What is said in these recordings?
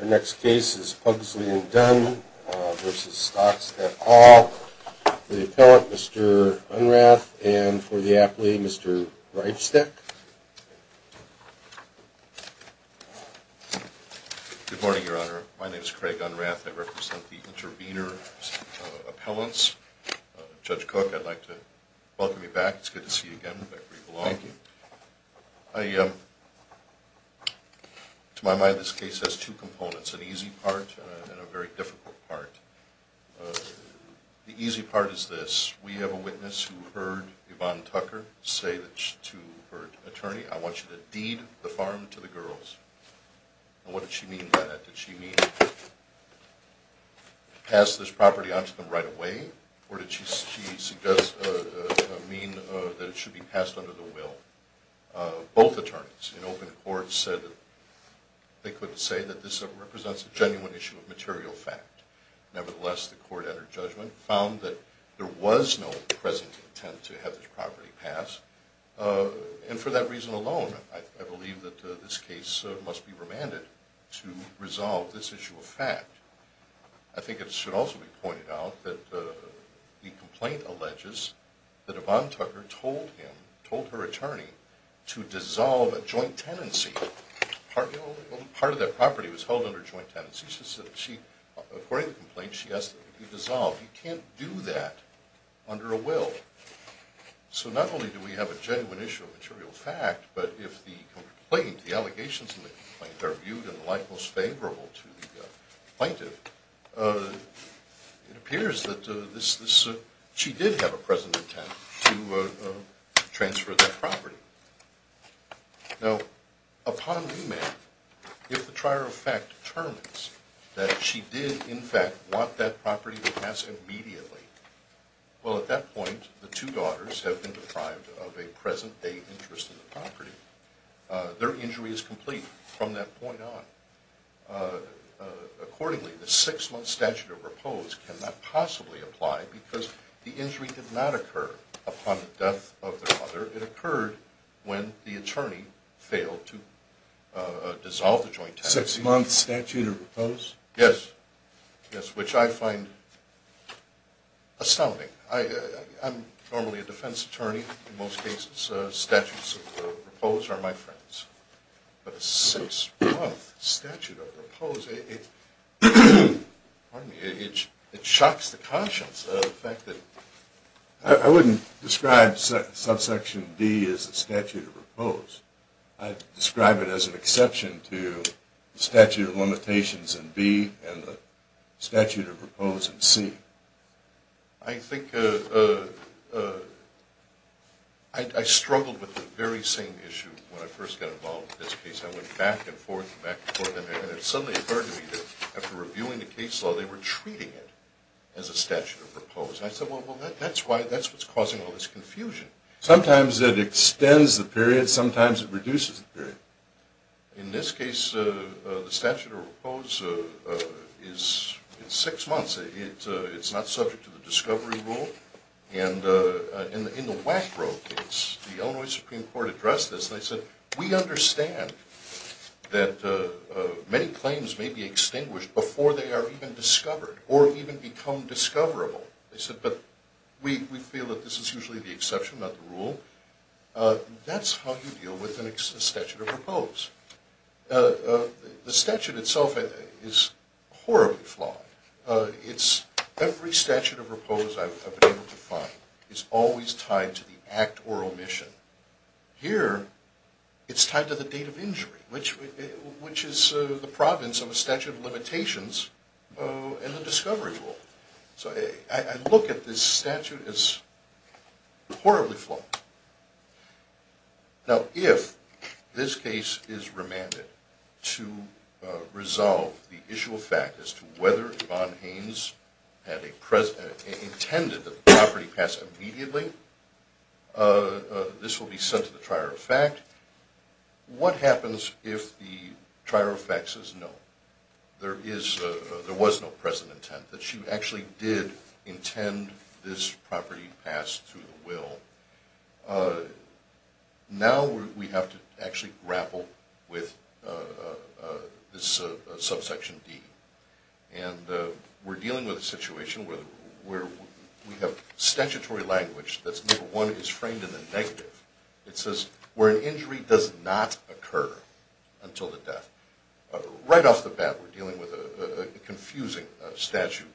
Our next case is Pugsley v. Stockstead Hall. For the appellant, Mr. Unrath, and for the appellee, Mr. Reichstek. Good morning, Your Honor. My name is Craig Unrath. I represent the intervener's appellants. Judge Cook, I'd like to welcome you back. It's good to see you. Thank you for having me. I'd like to start by saying that this case has two components, an easy part and a very difficult part. The easy part is this. We have a witness who heard Yvonne Tucker say to her attorney, I want you to deed the farm to the girls. What did she mean by that? Did she mean pass this property onto them right away or did she suggest, mean that it should be passed under the will? Both attorneys in open court said that they couldn't say that this represents a genuine issue of material fact. Nevertheless, the court under judgment found that there was no present intent to have this property passed. And for that reason alone, I believe that this case must be remanded to resolve this issue of fact. I think it should also be pointed out that the complaint alleges that Yvonne Tucker told him, told her attorney, to dissolve a joint tenancy. Part of that property was held under joint tenancy. According to the complaint, she asked that it be dissolved. You can't do that under a will. So not only do we have a genuine issue of material fact, but if the complaint, the allegations in the complaint are viewed in the light most favorable to the plaintiff, it appears that she did have a present intent to transfer that property. Now, upon remand, if the trier of fact determines that she did in fact want that property to pass immediately, well at that point, the two daughters have been deprived of a present date interest in the property. Their injury is complete from that point on. Accordingly, the six-month statute of repose cannot possibly apply because the injury did not occur upon the death of their mother. It occurred when the attorney failed to dissolve the joint tenancy. Six-month statute of repose? Yes. Yes, which I find astounding. I'm normally a defense attorney. In most cases, statutes of repose are my friends. But a six-month statute of repose, it shocks the conscience of the fact that I wouldn't describe subsection D as a statute of repose. I'd describe it as an exception to the statute of limitations in B and the statute of repose in C. I think I struggled with the very same issue when I first got involved with this case. I went back and forth and back and forth. And it suddenly occurred to me that after reviewing the case law, they were treating it as a statute of repose. And I said, well, that's what's causing all this confusion. Sometimes it extends the period. Sometimes it reduces the period. In this case, the statute of repose is six months. It's not subject to the discovery rule. And in the Wackrow case, the Illinois Supreme Court addressed this. They said, we understand that many claims may be extinguished before they are even discovered or even become discoverable. They said, but we feel that this is usually the exception, not the rule. That's how you deal with a statute of repose. The statute itself is horribly flawed. Every statute of repose I've been able to find is always tied to the act or omission. Here, it's tied to the date of injury, which is the province of a statute of limitations and the discovery rule. So I look at this statute and it's horribly flawed. Now, if this case is remanded to resolve the issue of fact as to whether Yvonne Haynes intended that the property pass immediately, this will be sent to the trier of fact. What happens if the trier of fact says no, there was no present intent, that she actually did intend this property pass through the will? Now we have to actually grapple with this subsection D. And we're dealing with a situation where we have statutory language that's number one is framed in the negative. It says, where an injury does not occur until the death. Right off the bat, we're dealing with a confusing statute.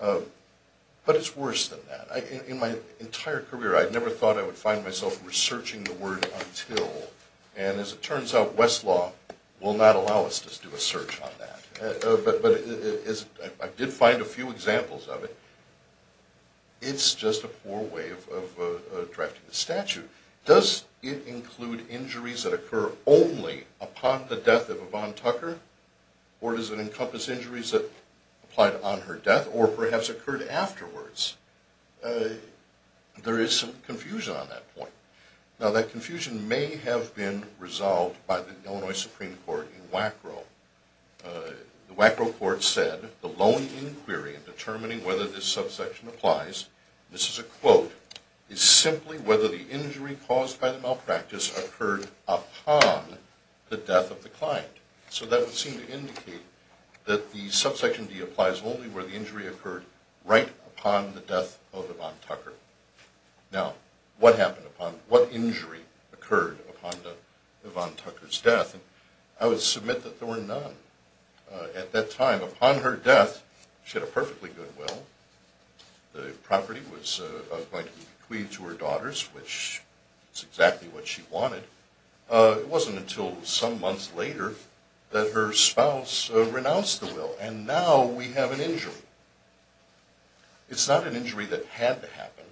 But it's worse than that. In my entire career, I never thought I would find myself researching the word until. And as it turns out, Westlaw will not allow us to do a search on that. But I did find a few examples of it. It's just a poor way of drafting the statute. Does it include injuries that occur only upon the death of Yvonne Tucker? Or does it encompass injuries that applied on her death or perhaps occurred afterwards? There is some confusion on that point. Now that confusion may have been resolved by the Illinois Supreme Court in WACRO. The WACRO court said, the lone inquiry in determining whether this subsection applies, this is a quote, is simply whether the injury caused by the malpractice occurred upon the death of the client. So that would seem to indicate that the subsection D applies only where the injury occurred right upon the death of Yvonne Tucker. Now, what happened upon, what injury occurred upon Yvonne Tucker's death? I would submit that there were none. At that time, upon her death, she had a perfectly good will. The property was going to be bequeathed to her daughters, which was exactly what she wanted. It wasn't until some months later that her spouse renounced the will. And now we have an injury. It's not an injury that had to happen.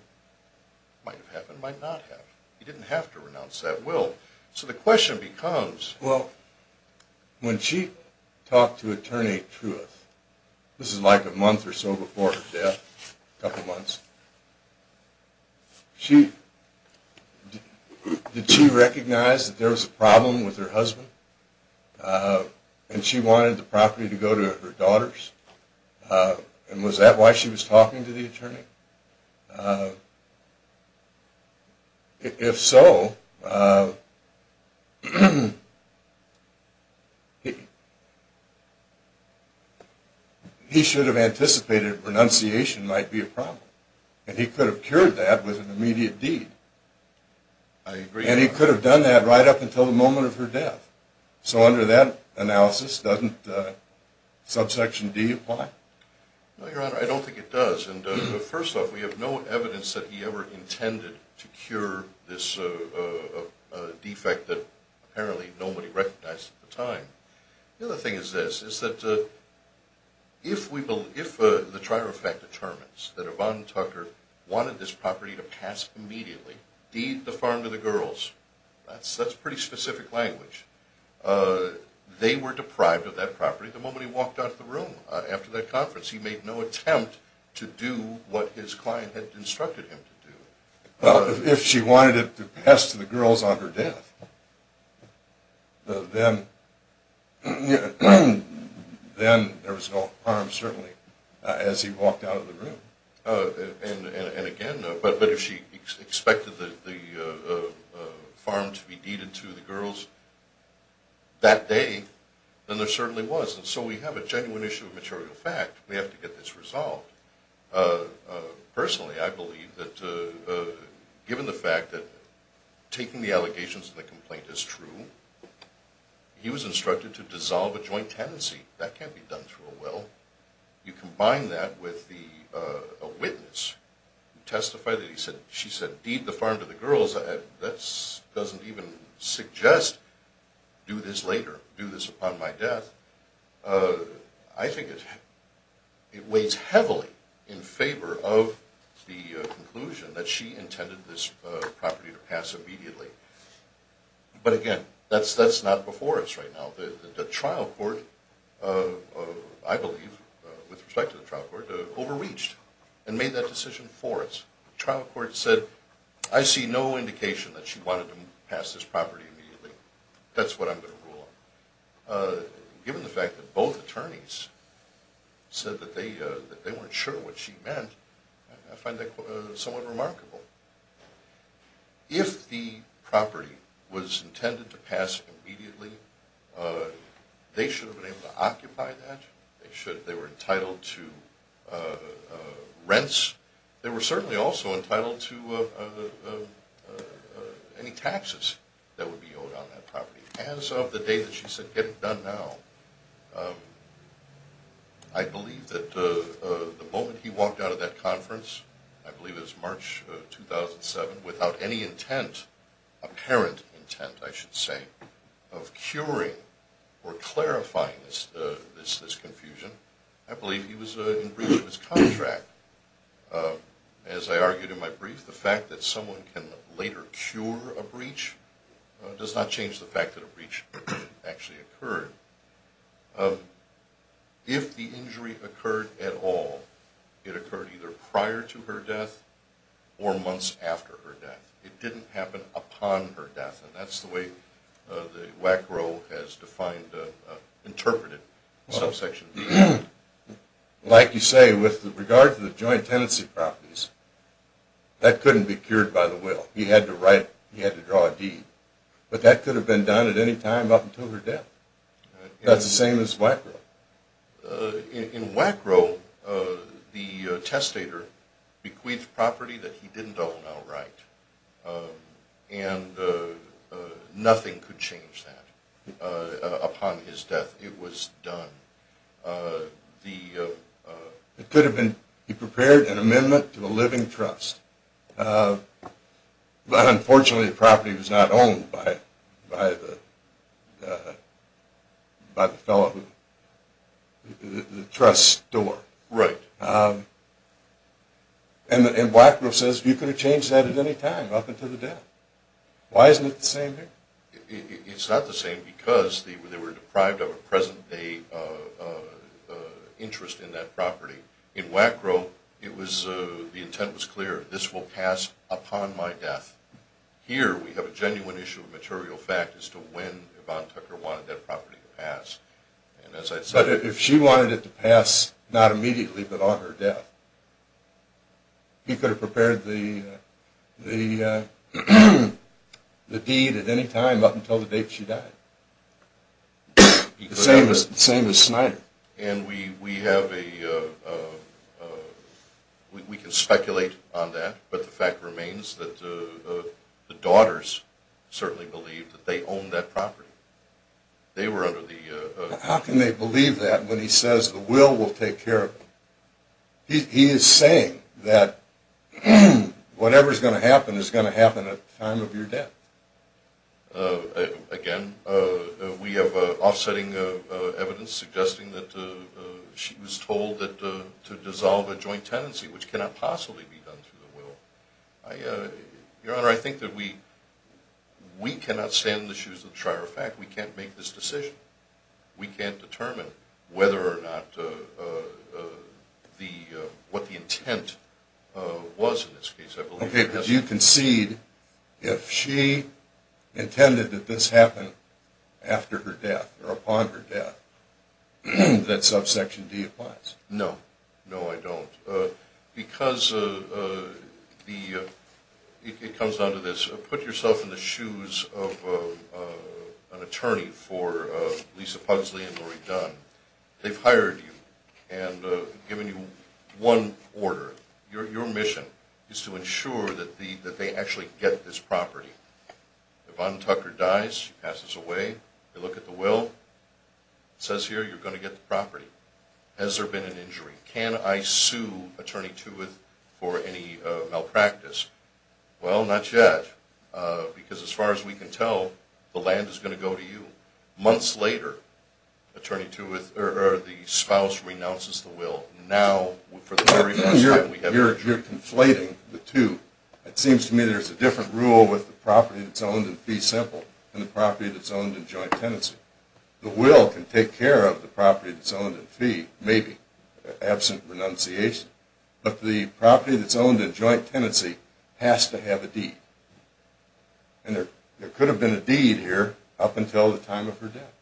Might have happened, might not have. He didn't have to renounce that will. So the question becomes... Well, when she talked to Attorney Truith, this is like a month or so before her death, a couple months, did she recognize that there was a problem with her husband? And she wanted the property to go to her daughters? And was that why she was talking to the attorney? If so, he should have anticipated renunciation might be a problem. And he could have cured that with an immediate deed. And he could have done that right up until the moment of her death. So under that analysis, doesn't subsection D apply? No, Your Honor, I don't think it does. And first off, we have no evidence that he ever intended to cure this defect that apparently nobody recognized at the time. The other thing is this, is that if the trial of fact determines that Yvonne Tucker wanted this property to pass immediately, deed, the farm to the girls, that's pretty specific language. They were He made no attempt to do what his client had instructed him to do. Well, if she wanted it to pass to the girls on her death, then there was no harm, certainly, as he walked out of the room. And again, but if she expected the farm to be deeded to the girls that day, then there we have to get this resolved. Personally, I believe that given the fact that taking the allegations and the complaint is true, he was instructed to dissolve a joint tenancy. That can't be done through a will. You combine that with a witness who testified that he said, she said, deed the farm to the girls, that doesn't even suggest do this later, do this upon my death. I think it weighs heavily in favor of the conclusion that she intended this property to pass immediately. But again, that's not before us right now. The trial court, I believe, with respect to the trial court, overreached and made that decision for us. The trial court said, I see no indication that she wanted to pass this property immediately. That's what I'm going to rule on. Given the fact that both attorneys said that they weren't sure what she meant, I find that somewhat remarkable. If the property was intended to pass immediately, they should have been able to occupy that. They were entitled to rents. They were certainly also entitled to any taxes that would be owed on that property. As of the day that she said, get it done now, I believe that the moment he walked out of that conference, I believe it was March 2007, without any intent, apparent intent, I should argue to my brief, the fact that someone can later cure a breach does not change the fact that a breach actually occurred. If the injury occurred at all, it occurred either prior to her death or months after her death. It didn't happen upon her death. And that's the way the WAC role has defined, interpreted, subsection of the act. Like you say, with regard to the joint tenancy properties, that couldn't be cured by the will. He had to write, he had to draw a deed. But that could have been done at any time up until her death. That's the same as WAC role. In WAC role, the testator bequeathed property that he didn't own outright. And nothing could change that upon his death. It was done. It could have been, he prepared an amendment to a living trust. But unfortunately the property was not owned by the fellow, the trust's store. Right. And WAC role says you could have changed that at any time up until the death. Why isn't it the same here? It's not the same because they were deprived of a present day interest in that property. In WAC role, the intent was clear. This will pass upon my death. Here we have a genuine issue of material fact as to when Yvonne Tucker wanted that property to pass. But if she wanted it to pass, not immediately, but on her death, he could have prepared the deed at any time up until the date she died. The same as Snyder. And we have a, we can speculate on that, but the fact remains that the daughters certainly believed that they owned that property. They were under the... How can they believe that when he says the will will take care of it? He is saying that whatever is going to happen is going to happen at the time of your death. Again, we have offsetting evidence suggesting that she was told to dissolve a joint tenancy which cannot possibly be done through the will. Your Honor, I think that we cannot stand in the shoes of the trier of fact. We can't make this decision. We can't determine whether or not the, what the intent was in this case. Okay, because you concede if she intended that this happen after her death or upon her death, that subsection D applies. No. No, I don't. Because the, it comes down to this. Put yourself in the shoes of an attorney for Lisa Pugsley and Lori Dunn. They've hired you and given you one order. Your mission is to ensure that they actually get this property. Yvonne Tucker dies, she passes away, they look at the will, it says here you're going to get the property. Has there been an injury? Can I sue Attorney Tuwith for any malpractice? Well, not yet. Because as far as we can tell, the land is going to go to you. Months later, Attorney Tuwith, or the spouse, renounces the will. Now, for the very first time, we have injury. You're conflating the two. It seems to me there's a different rule with the property that's owned in fee simple and the property that's owned in joint tenancy. The will can take care of the property that's owned in fee, maybe, absent renunciation. But the property that's owned in joint tenancy has to have a deed. And there could have been a deed here up until the time of her death.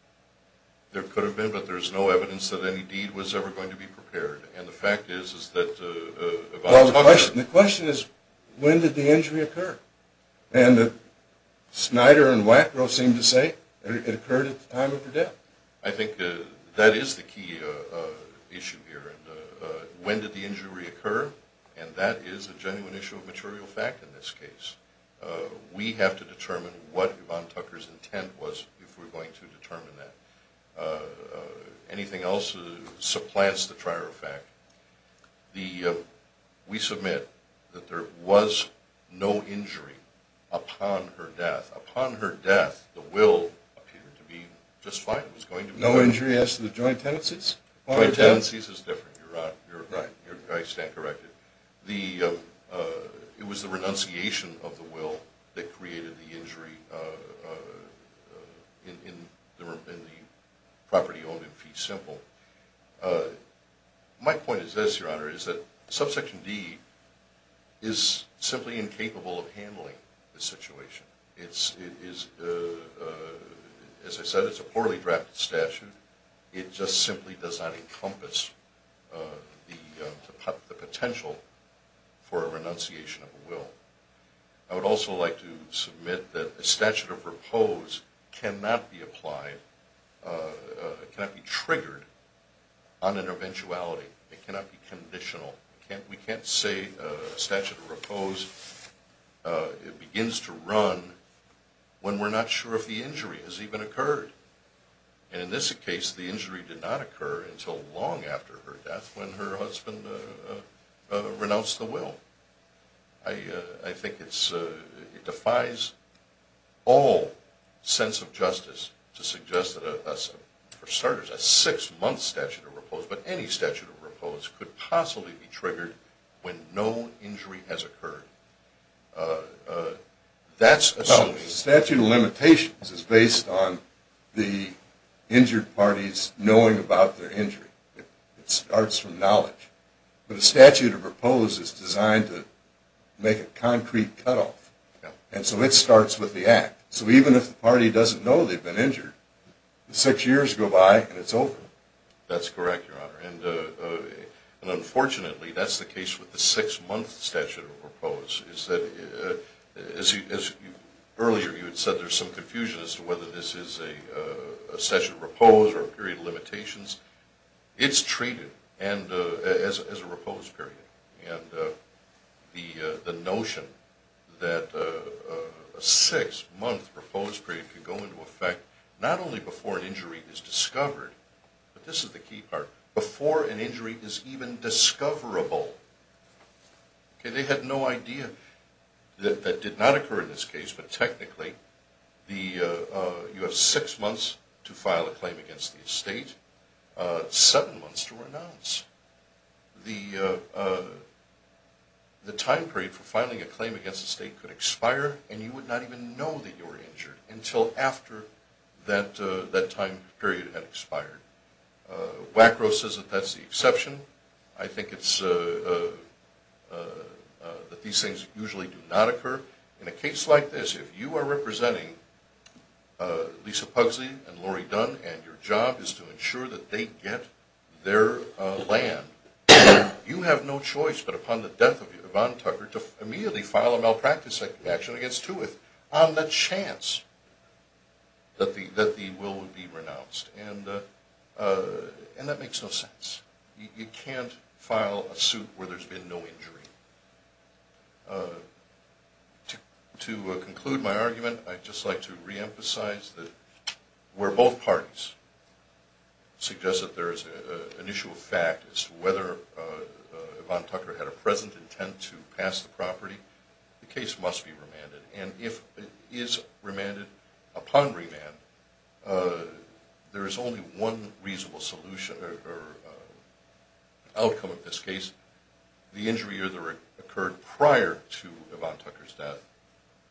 There could have been, but there's no evidence that any deed was ever going to be prepared. The question is, when did the injury occur? And Snyder and Wackrow seem to say it occurred at the time of her death. I think that is the key issue here. When did the injury occur? And that is a genuine issue of material fact in this case. We have to determine what Yvonne Tucker's intent was if we're going to determine that. Anything else supplants the prior fact. We submit that there was no injury upon her death. Upon her death, the will appeared to be just fine. No injury as to the joint tenancies? Joint tenancies is different. You're right. I stand corrected. It was the renunciation of the will that created the injury in the property owned in fee simple. My point is this, Your Honor, is that Subsection D is simply incapable of handling the situation. As I said, it's a poorly drafted statute. It just simply does not encompass the potential for a renunciation of a will. I would also like to submit that a statute of repose cannot be applied, cannot be triggered on an eventuality. It cannot be conditional. We can't say a statute of repose begins to run when we're not sure if the injury has even occurred. And in this case, the injury did not occur until long after her death when her husband renounced the will. I think it defies all sense of justice to suggest that, for starters, a six-month statute of repose, but any statute of repose, could possibly be triggered when no injury has occurred. That's a solution. A statute of limitations is based on the injured party's knowing about their injury. It starts from knowledge. But a statute of repose is designed to make a concrete cutoff. And so it starts with the act. So even if the party doesn't know they've been injured, six years go by and it's over. That's correct, Your Honor. And unfortunately, that's the case with the six-month statute of repose. It's that, as earlier you had said, there's some confusion as to whether this is a statute of repose or a period of limitations. It's treated as a repose period. And the notion that a six-month repose period could go into effect not only before an injury is discovered, but this is the key part, before an injury is even discoverable. They had no idea that that did not occur in this case. But technically, you have six months to file a claim against the estate, seven months to renounce. The time period for filing a claim against the estate could expire and you would not even know that you were injured until after that time period had expired. Wackrow says that that's the exception. I think that these things usually do not occur. In a case like this, if you are representing Lisa Pugsley and Lori Dunn and your job is to ensure that they get their land, you have no choice but upon the death of Yvonne Tucker to immediately file a malpractice action against Tuath on the chance that the will would be renounced. And that makes no sense. You can't file a suit where there's been no injury. To conclude my argument, I'd just like to reemphasize that where both parties suggest that there is an issue of fact as to whether Yvonne Tucker had a present intent to pass the property, the case must be remanded. And if it is remanded upon remand, there is only one reasonable solution or outcome of this case. The injury either occurred prior to Yvonne Tucker's death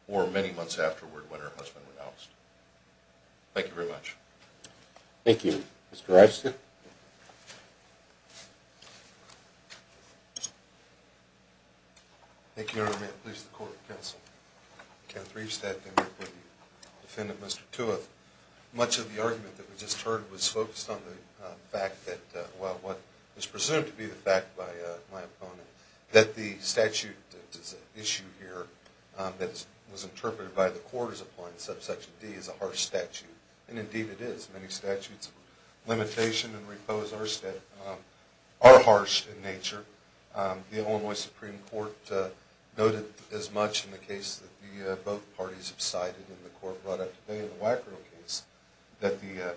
or many months afterward when her husband renounced. Thank you very much. Thank you. Mr. Reifstead? Thank you, Your Honor. May it please the Court of Counsel. Kenneth Reifstead here for the defendant, Mr. Tuath. Much of the argument that we just heard was focused on the fact that, well, what is presumed to be the fact by my opponent, that the statute that is at issue here that was interpreted by the court as applying subsection D is a harsh statute. And indeed it is. Many statutes of limitation and repose are harsh in nature. The Illinois Supreme Court noted as much in the case that both parties have cited in the court brought up today, that in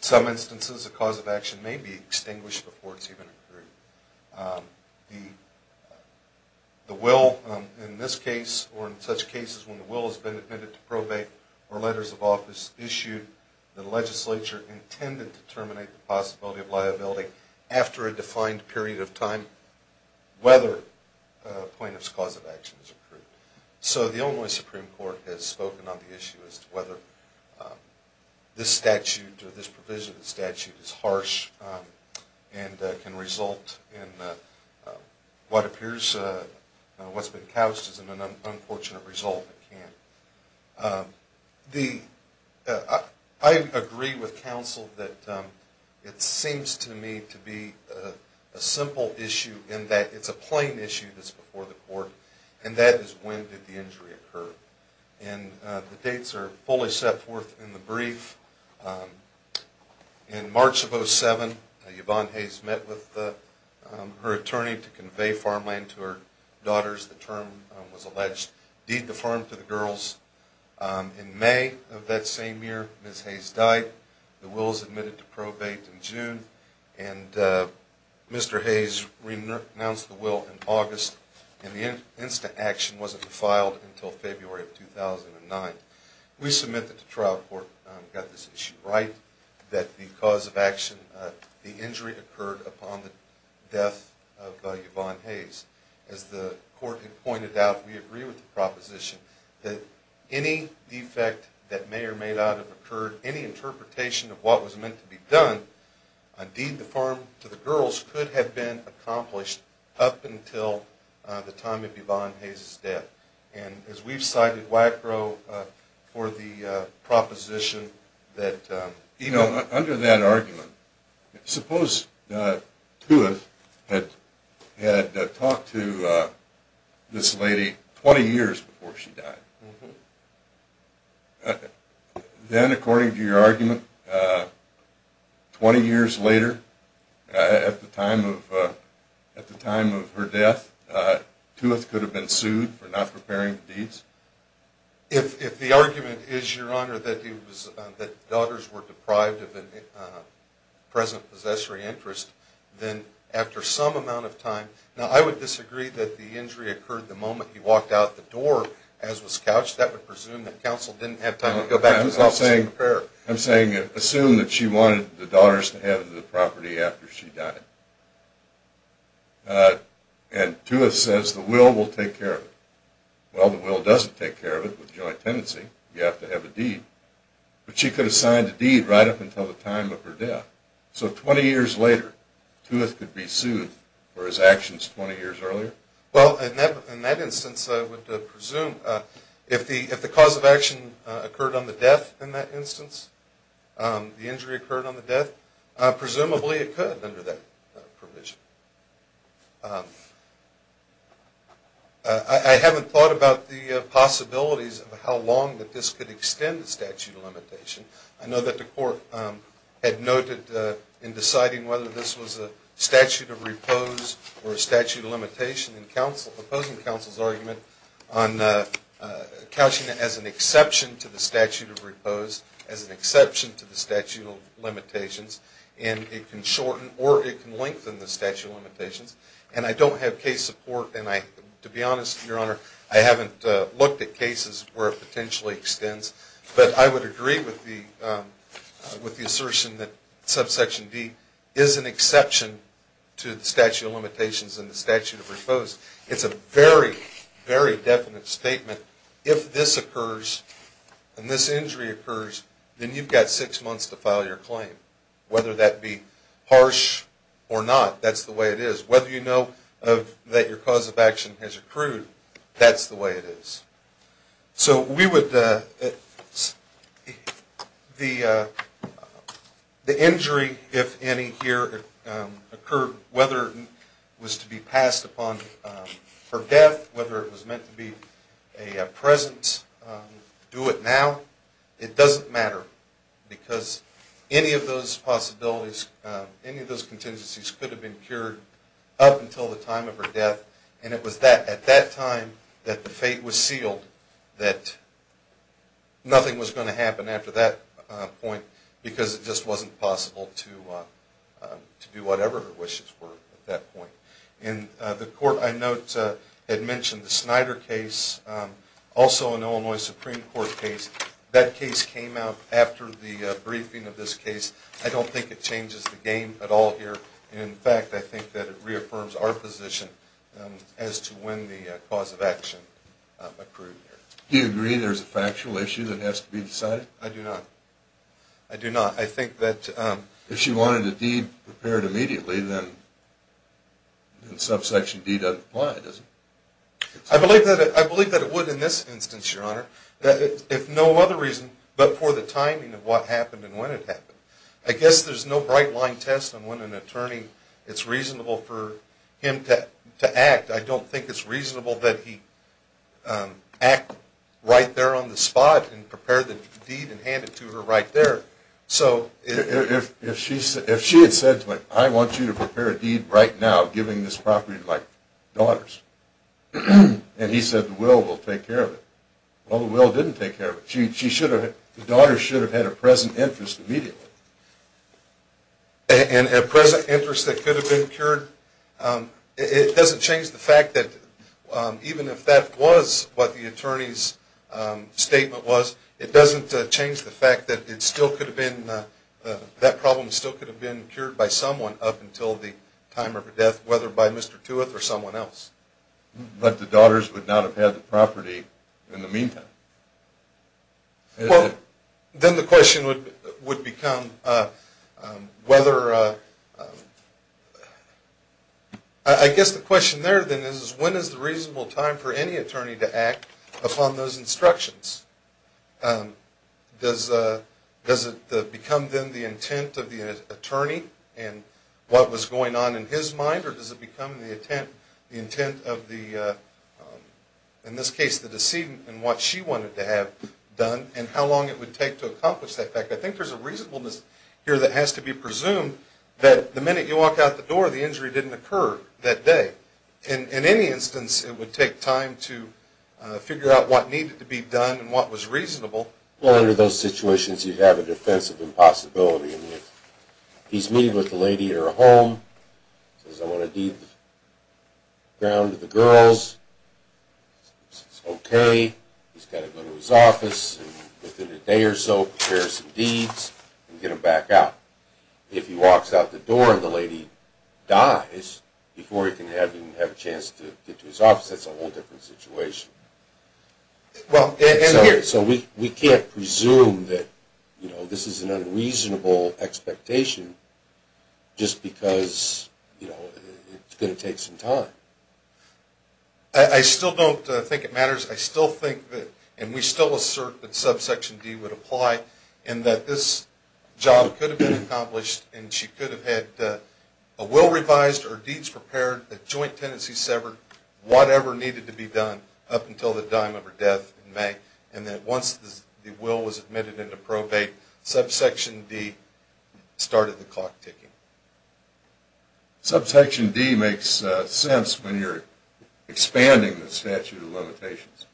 some instances the cause of action may be extinguished before it is even accrued. The will in this case or in such cases when the will has been admitted to probate or letters of office issued, the legislature intended to terminate the possibility of liability after a defined period of time, whether a plaintiff's cause of action is accrued. So the Illinois Supreme Court has spoken on the issue as to whether this statute or this provision of the statute is harsh and can result in what appears, what's been couched as an unfortunate result. I agree with counsel that it seems to me to be a simple issue in that it's a plain issue that's before the court and that is when did the injury occur. And the dates are fully set forth in the brief. In March of 07, Yvonne Hayes met with her attorney to convey farmland to her daughters. The term was alleged, deed to farm to the girls. In May of that same year, Ms. Hayes died. The will was admitted to probate in June and Mr. Hayes renounced the will in August. And the instant action wasn't filed until February of 2009. We submit that the trial court got this issue right, that the cause of action, the injury occurred upon the death of Yvonne Hayes. As the court had pointed out, we agree with the proposition that any defect that may or may not have occurred, any interpretation of what was meant to be done, a deed to farm to the girls could have been accomplished up until the time of Yvonne Hayes' death. And as we've cited WACRO for the proposition that... You know, under that argument, suppose Tuath had talked to this lady 20 years before she died. Then, according to your argument, 20 years later, at the time of her death, Tuath could have been sued for not preparing the deeds? If the argument is, Your Honor, that the daughters were deprived of a present possessory interest, then after some amount of time... Now, I would disagree that the injury occurred the moment he walked out the door as was couched. That would presume that counsel didn't have time to go back to his office and prepare. I'm saying assume that she wanted the daughters to have the property after she died. And Tuath says the will will take care of it. Well, the will doesn't take care of it with joint tenancy. You have to have a deed. But she could have signed a deed right up until the time of her death. So 20 years later, Tuath could be sued for his actions 20 years earlier? Well, in that instance, I would presume if the cause of action occurred on the death in that instance, the injury occurred on the death, presumably it could under that provision. I haven't thought about the possibilities of how long this could extend the statute of limitation. I know that the court had noted in deciding whether this was a statute of repose or a statute of limitation in opposing counsel's argument on couching it as an exception to the statute of repose, as an exception to the statute of limitations, and it can shorten or it can lengthen the statute of limitations. And I don't have case support. And to be honest, Your Honor, I haven't looked at cases where it potentially extends. But I would agree with the assertion that subsection D is an exception to the statute of limitations and the statute of repose. It's a very, very definite statement. If this occurs and this injury occurs, then you've got six months to file your claim. Whether that be harsh or not, that's the way it is. Whether you know that your cause of action has accrued, that's the way it is. So the injury, if any, here occurred, whether it was to be passed upon for death, whether it was meant to be a presence, do it now, it doesn't matter. Because any of those possibilities, any of those contingencies could have been cured up until the time of her death. And it was at that time that the fate was sealed, that nothing was going to happen after that point because it just wasn't possible to do whatever her wishes were at that point. And the court, I note, had mentioned the Snyder case, also an Illinois Supreme Court case. That case came out after the briefing of this case. I don't think it changes the game at all here. In fact, I think that it reaffirms our position as to when the cause of action accrued. Do you agree there's a factual issue that has to be decided? I do not. I do not. I think that if she wanted a deed prepared immediately, then subsection D doesn't apply, does it? I believe that it would in this instance, Your Honor. If no other reason but for the timing of what happened and when it happened. I guess there's no bright line test on when an attorney, it's reasonable for him to act. I don't think it's reasonable that he act right there on the spot and prepare the deed and hand it to her right there. If she had said to him, I want you to prepare a deed right now giving this property to my daughters, and he said the will will take care of it. Well, the will didn't take care of it. I mean, the daughters should have had a present interest immediately. And a present interest that could have been cured? It doesn't change the fact that even if that was what the attorney's statement was, it doesn't change the fact that that problem still could have been cured by someone up until the time of her death, whether by Mr. Tuath or someone else. But the daughters would not have had the property in the meantime. Then the question would become whether, I guess the question there then is, when is the reasonable time for any attorney to act upon those instructions? Does it become then the intent of the attorney and what was going on in his mind, or does it become the intent of the, in this case, the decedent and what she wanted to have done, and how long it would take to accomplish that? I think there's a reasonableness here that has to be presumed that the minute you walk out the door, the injury didn't occur that day. In any instance, it would take time to figure out what needed to be done and what was reasonable. Well, under those situations, you have a defense of impossibility. He's meeting with the lady at her home. He says, I want to give the ground to the girls. She says, okay. He's got to go to his office, and within a day or so, prepare some deeds and get him back out. If he walks out the door and the lady dies before he can have a chance to get to his office, that's a whole different situation. So we can't presume that this is an unreasonable expectation just because it's going to take some time. I still don't think it matters. I still think that, and we still assert that subsection D would apply, and that this job could have been accomplished, and she could have had a will revised, or deeds prepared, a joint tenancy severed, whatever needed to be done up until the time of her death in May, and that once the will was admitted into probate, subsection D started the clock ticking. Subsection D makes sense when you're expanding the statute of limitations,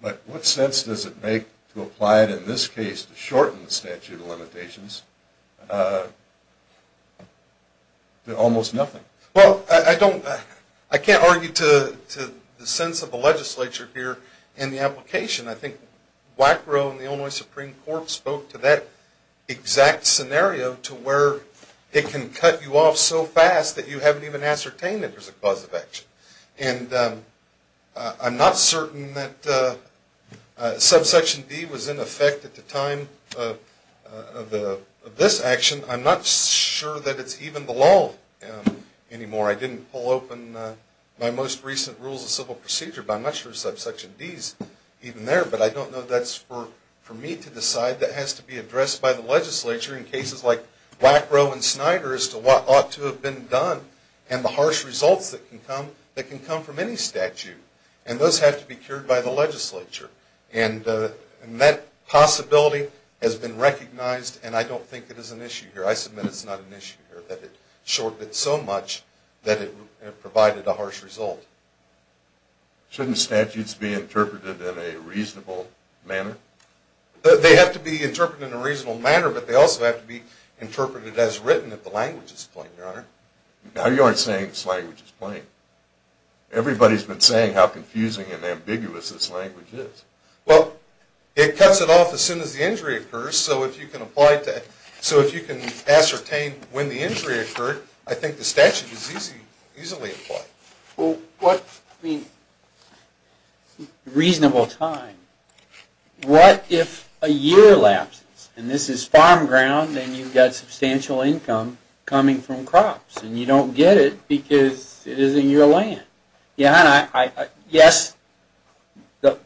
but what sense does it make to apply it in this case to shorten the statute of limitations to almost nothing? Well, I can't argue to the sense of the legislature here in the application. I think Wackrow and the Illinois Supreme Court spoke to that exact scenario, to where it can cut you off so fast that you haven't even ascertained that there's a cause of action. And I'm not certain that subsection D was in effect at the time of this action. I'm not sure that it's even the law anymore. I didn't pull open my most recent rules of civil procedure, but I'm not sure subsection D is even there. But I don't know that's for me to decide. That has to be addressed by the legislature in cases like Wackrow and Snyder as to what ought to have been done, and the harsh results that can come from any statute. And those have to be cured by the legislature. And that possibility has been recognized, and I don't think it is an issue here. I submit it's not an issue here that it shorted it so much that it provided a harsh result. Shouldn't statutes be interpreted in a reasonable manner? They have to be interpreted in a reasonable manner, but they also have to be interpreted as written if the language is plain, Your Honor. Now you aren't saying this language is plain. Everybody's been saying how confusing and ambiguous this language is. Well, it cuts it off as soon as the injury occurs, so if you can ascertain when the injury occurred, I think the statute is easily applied. Well, what, I mean, reasonable time. What if a year lapses, and this is farm ground, and you've got substantial income coming from crops, and you don't get it because it isn't your land? Your Honor, yes, the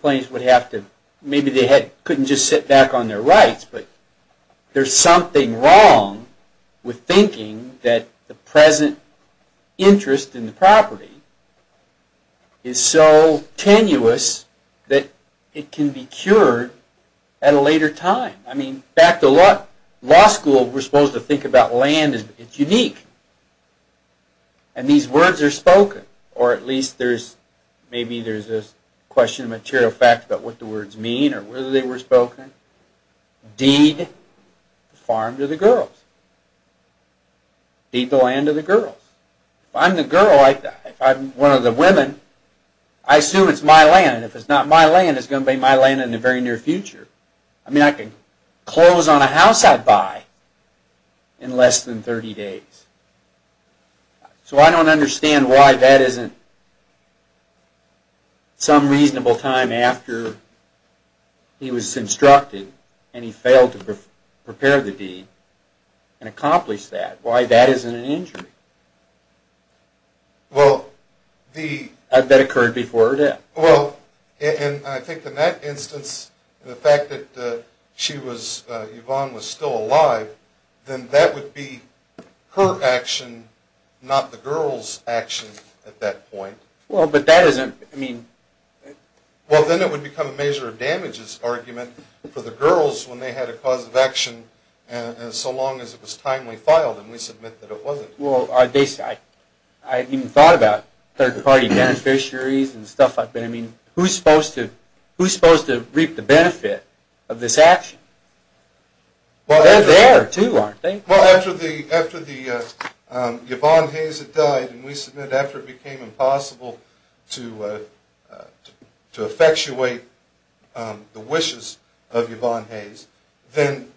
plaintiffs would have to, maybe they couldn't just sit back on their rights, but there's something wrong with thinking that the present interest in the property is so tenuous that it can be cured at a later time. I mean, back to law school, we're supposed to think about land, it's unique, and these words are spoken, or at least there's, maybe there's a question of material fact about what the words mean or whether they were spoken. Deed the farm to the girls. Deed the land to the girls. If I'm the girl, if I'm one of the women, I assume it's my land, and if it's not my land, it's going to be my land in the very near future. I mean, I can close on a house I buy in less than 30 days. So I don't understand why that isn't some reasonable time after he was instructed and he failed to prepare the deed and accomplish that, why that isn't an injury. Well, the... That occurred before her death. Well, and I think in that instance, the fact that she was, Yvonne was still alive, then that would be her action, not the girl's action at that point. Well, but that isn't, I mean... Well, then it would become a measure of damages argument for the girls when they had a cause of action and so long as it was timely filed and we submit that it wasn't. Well, I even thought about third-party beneficiaries and stuff like that. I mean, who's supposed to reap the benefit of this action? They're there, too, aren't they? Well, after the, Yvonne Hayes had died and we submit after it became impossible to effectuate the wishes of Yvonne Hayes, then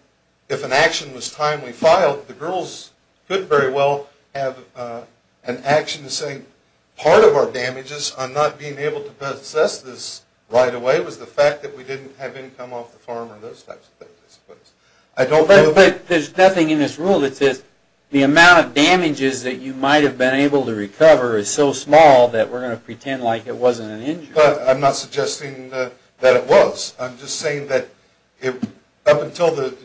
if an action was timely filed, the girls could very well have an action to say part of our damages on not being able to possess this right away was the fact that we didn't have income off the farm or those types of things. But there's nothing in this rule that says the amount of damages that you might have been able to recover is so small that we're going to pretend like it wasn't an injury. But I'm not suggesting that it was. I'm just saying that up until the...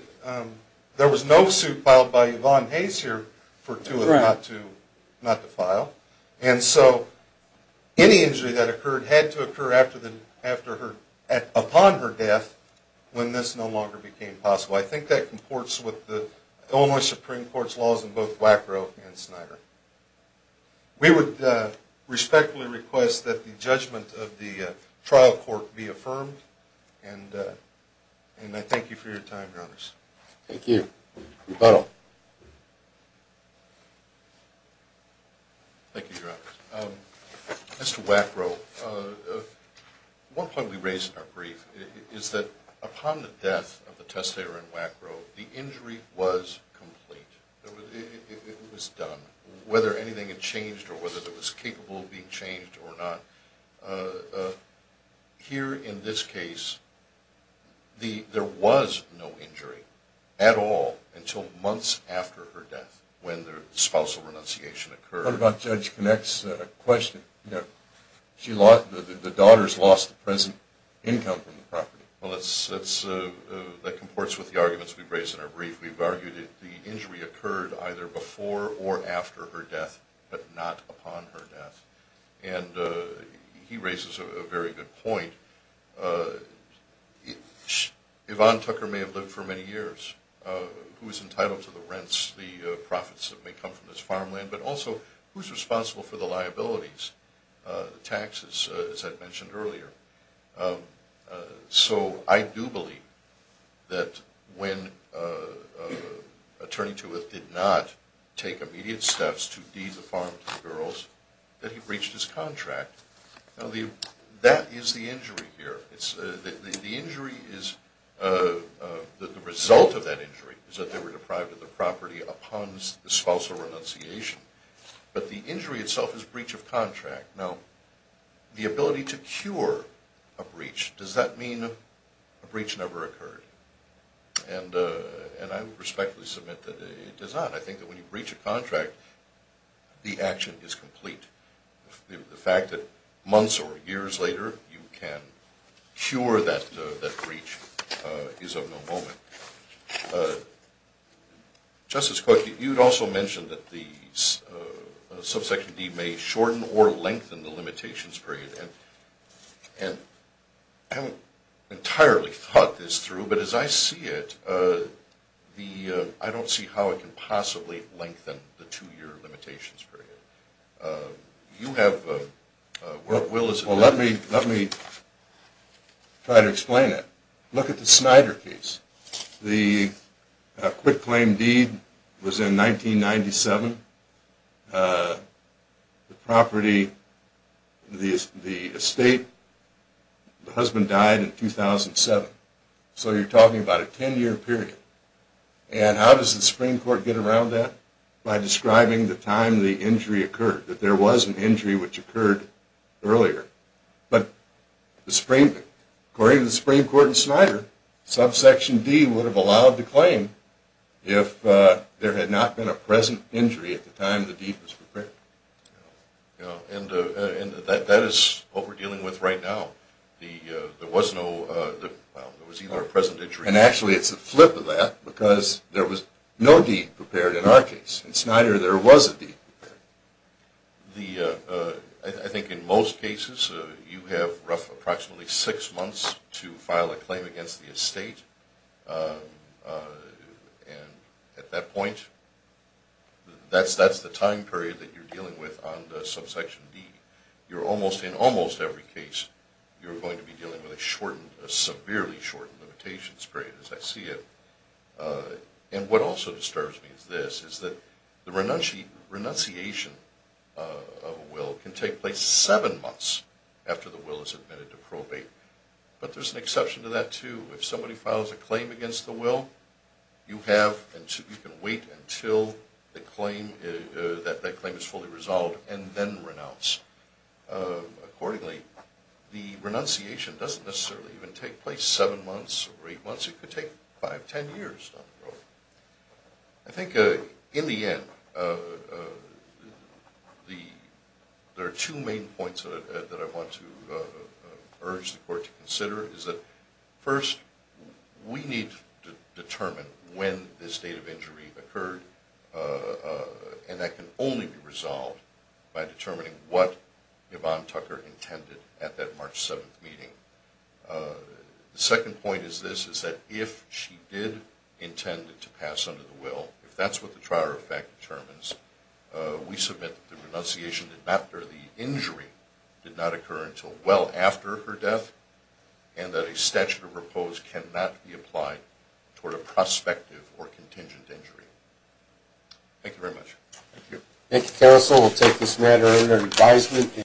There was no suit filed by Yvonne Hayes here for Tula not to file. And so any injury that occurred had to occur upon her death when this no longer became possible. I think that comports with the Illinois Supreme Court's laws in both Wackrow and Snyder. We would respectfully request that the judgment of the trial court be affirmed. And I thank you for your time, Your Honors. Thank you. Rebuttal. Thank you, Your Honors. As to Wackrow, one point we raised in our brief is that upon the death of the testator in Wackrow, the injury was complete. It was done. Whether anything had changed or whether it was capable of being changed or not, here in this case there was no injury at all until months after her death when the spousal renunciation occurred. What about Judge Knax's question? The daughters lost the present income from the property. Well, that comports with the arguments we've raised in our brief. We've argued that the injury occurred either before or after her death, but not upon her death. And he raises a very good point. Yvonne Tucker may have lived for many years. Who is entitled to the rents, the profits that may come from his farmland, but also who is responsible for the liabilities, the taxes, as I mentioned earlier. So I do believe that when Attorney Tuath did not take immediate steps to deed the farm to the girls, that he breached his contract. Now, that is the injury here. The result of that injury is that they were deprived of the property upon the spousal renunciation. But the injury itself is breach of contract. Now, the ability to cure a breach, does that mean a breach never occurred? And I respectfully submit that it does not. I think that when you breach a contract, the action is complete. The fact that months or years later you can cure that breach is of no moment. Justice Cooke, you had also mentioned that the subsection D may shorten or lengthen the limitations period. And I haven't entirely thought this through, but as I see it, I don't see how it can possibly lengthen the two-year limitations period. You have a work will as well. Well, let me try to explain it. Look at the Snyder case. The quit-claim deed was in 1997. The property, the estate, the husband died in 2007. So you're talking about a 10-year period. And how does the Supreme Court get around that? By describing the time the injury occurred, that there was an injury which occurred earlier. But according to the Supreme Court in Snyder, subsection D would have allowed the claim if there had not been a present injury at the time the deed was prepared. And that is what we're dealing with right now. There was no present injury. And actually, it's the flip of that, because there was no deed prepared in our case. In Snyder, there was a deed prepared. I think in most cases, you have approximately six months to file a claim against the estate. And at that point, that's the time period that you're dealing with on the subsection D. In almost every case, you're going to be dealing with a severely shortened limitations period, as I see it. And what also disturbs me is this, is that the renunciation of a will can take place seven months after the will is admitted to probate. But there's an exception to that, too. If somebody files a claim against the will, you can wait until that claim is fully resolved and then renounce. Accordingly, the renunciation doesn't necessarily even take place seven months or eight months. It could take five, ten years. I think in the end, there are two main points that I want to urge the Court to consider. First, we need to determine when this date of injury occurred, and that can only be resolved by determining what Yvonne Tucker intended at that March 7th meeting. The second point is this, is that if she did intend to pass under the will, if that's what the trial rule of fact determines, we submit that the renunciation did not occur, the injury did not occur until well after her death, and that a statute of repose cannot be applied toward a prospective or contingent injury. Thank you very much. Thank you. Thank you, counsel. We'll take this matter under advisement.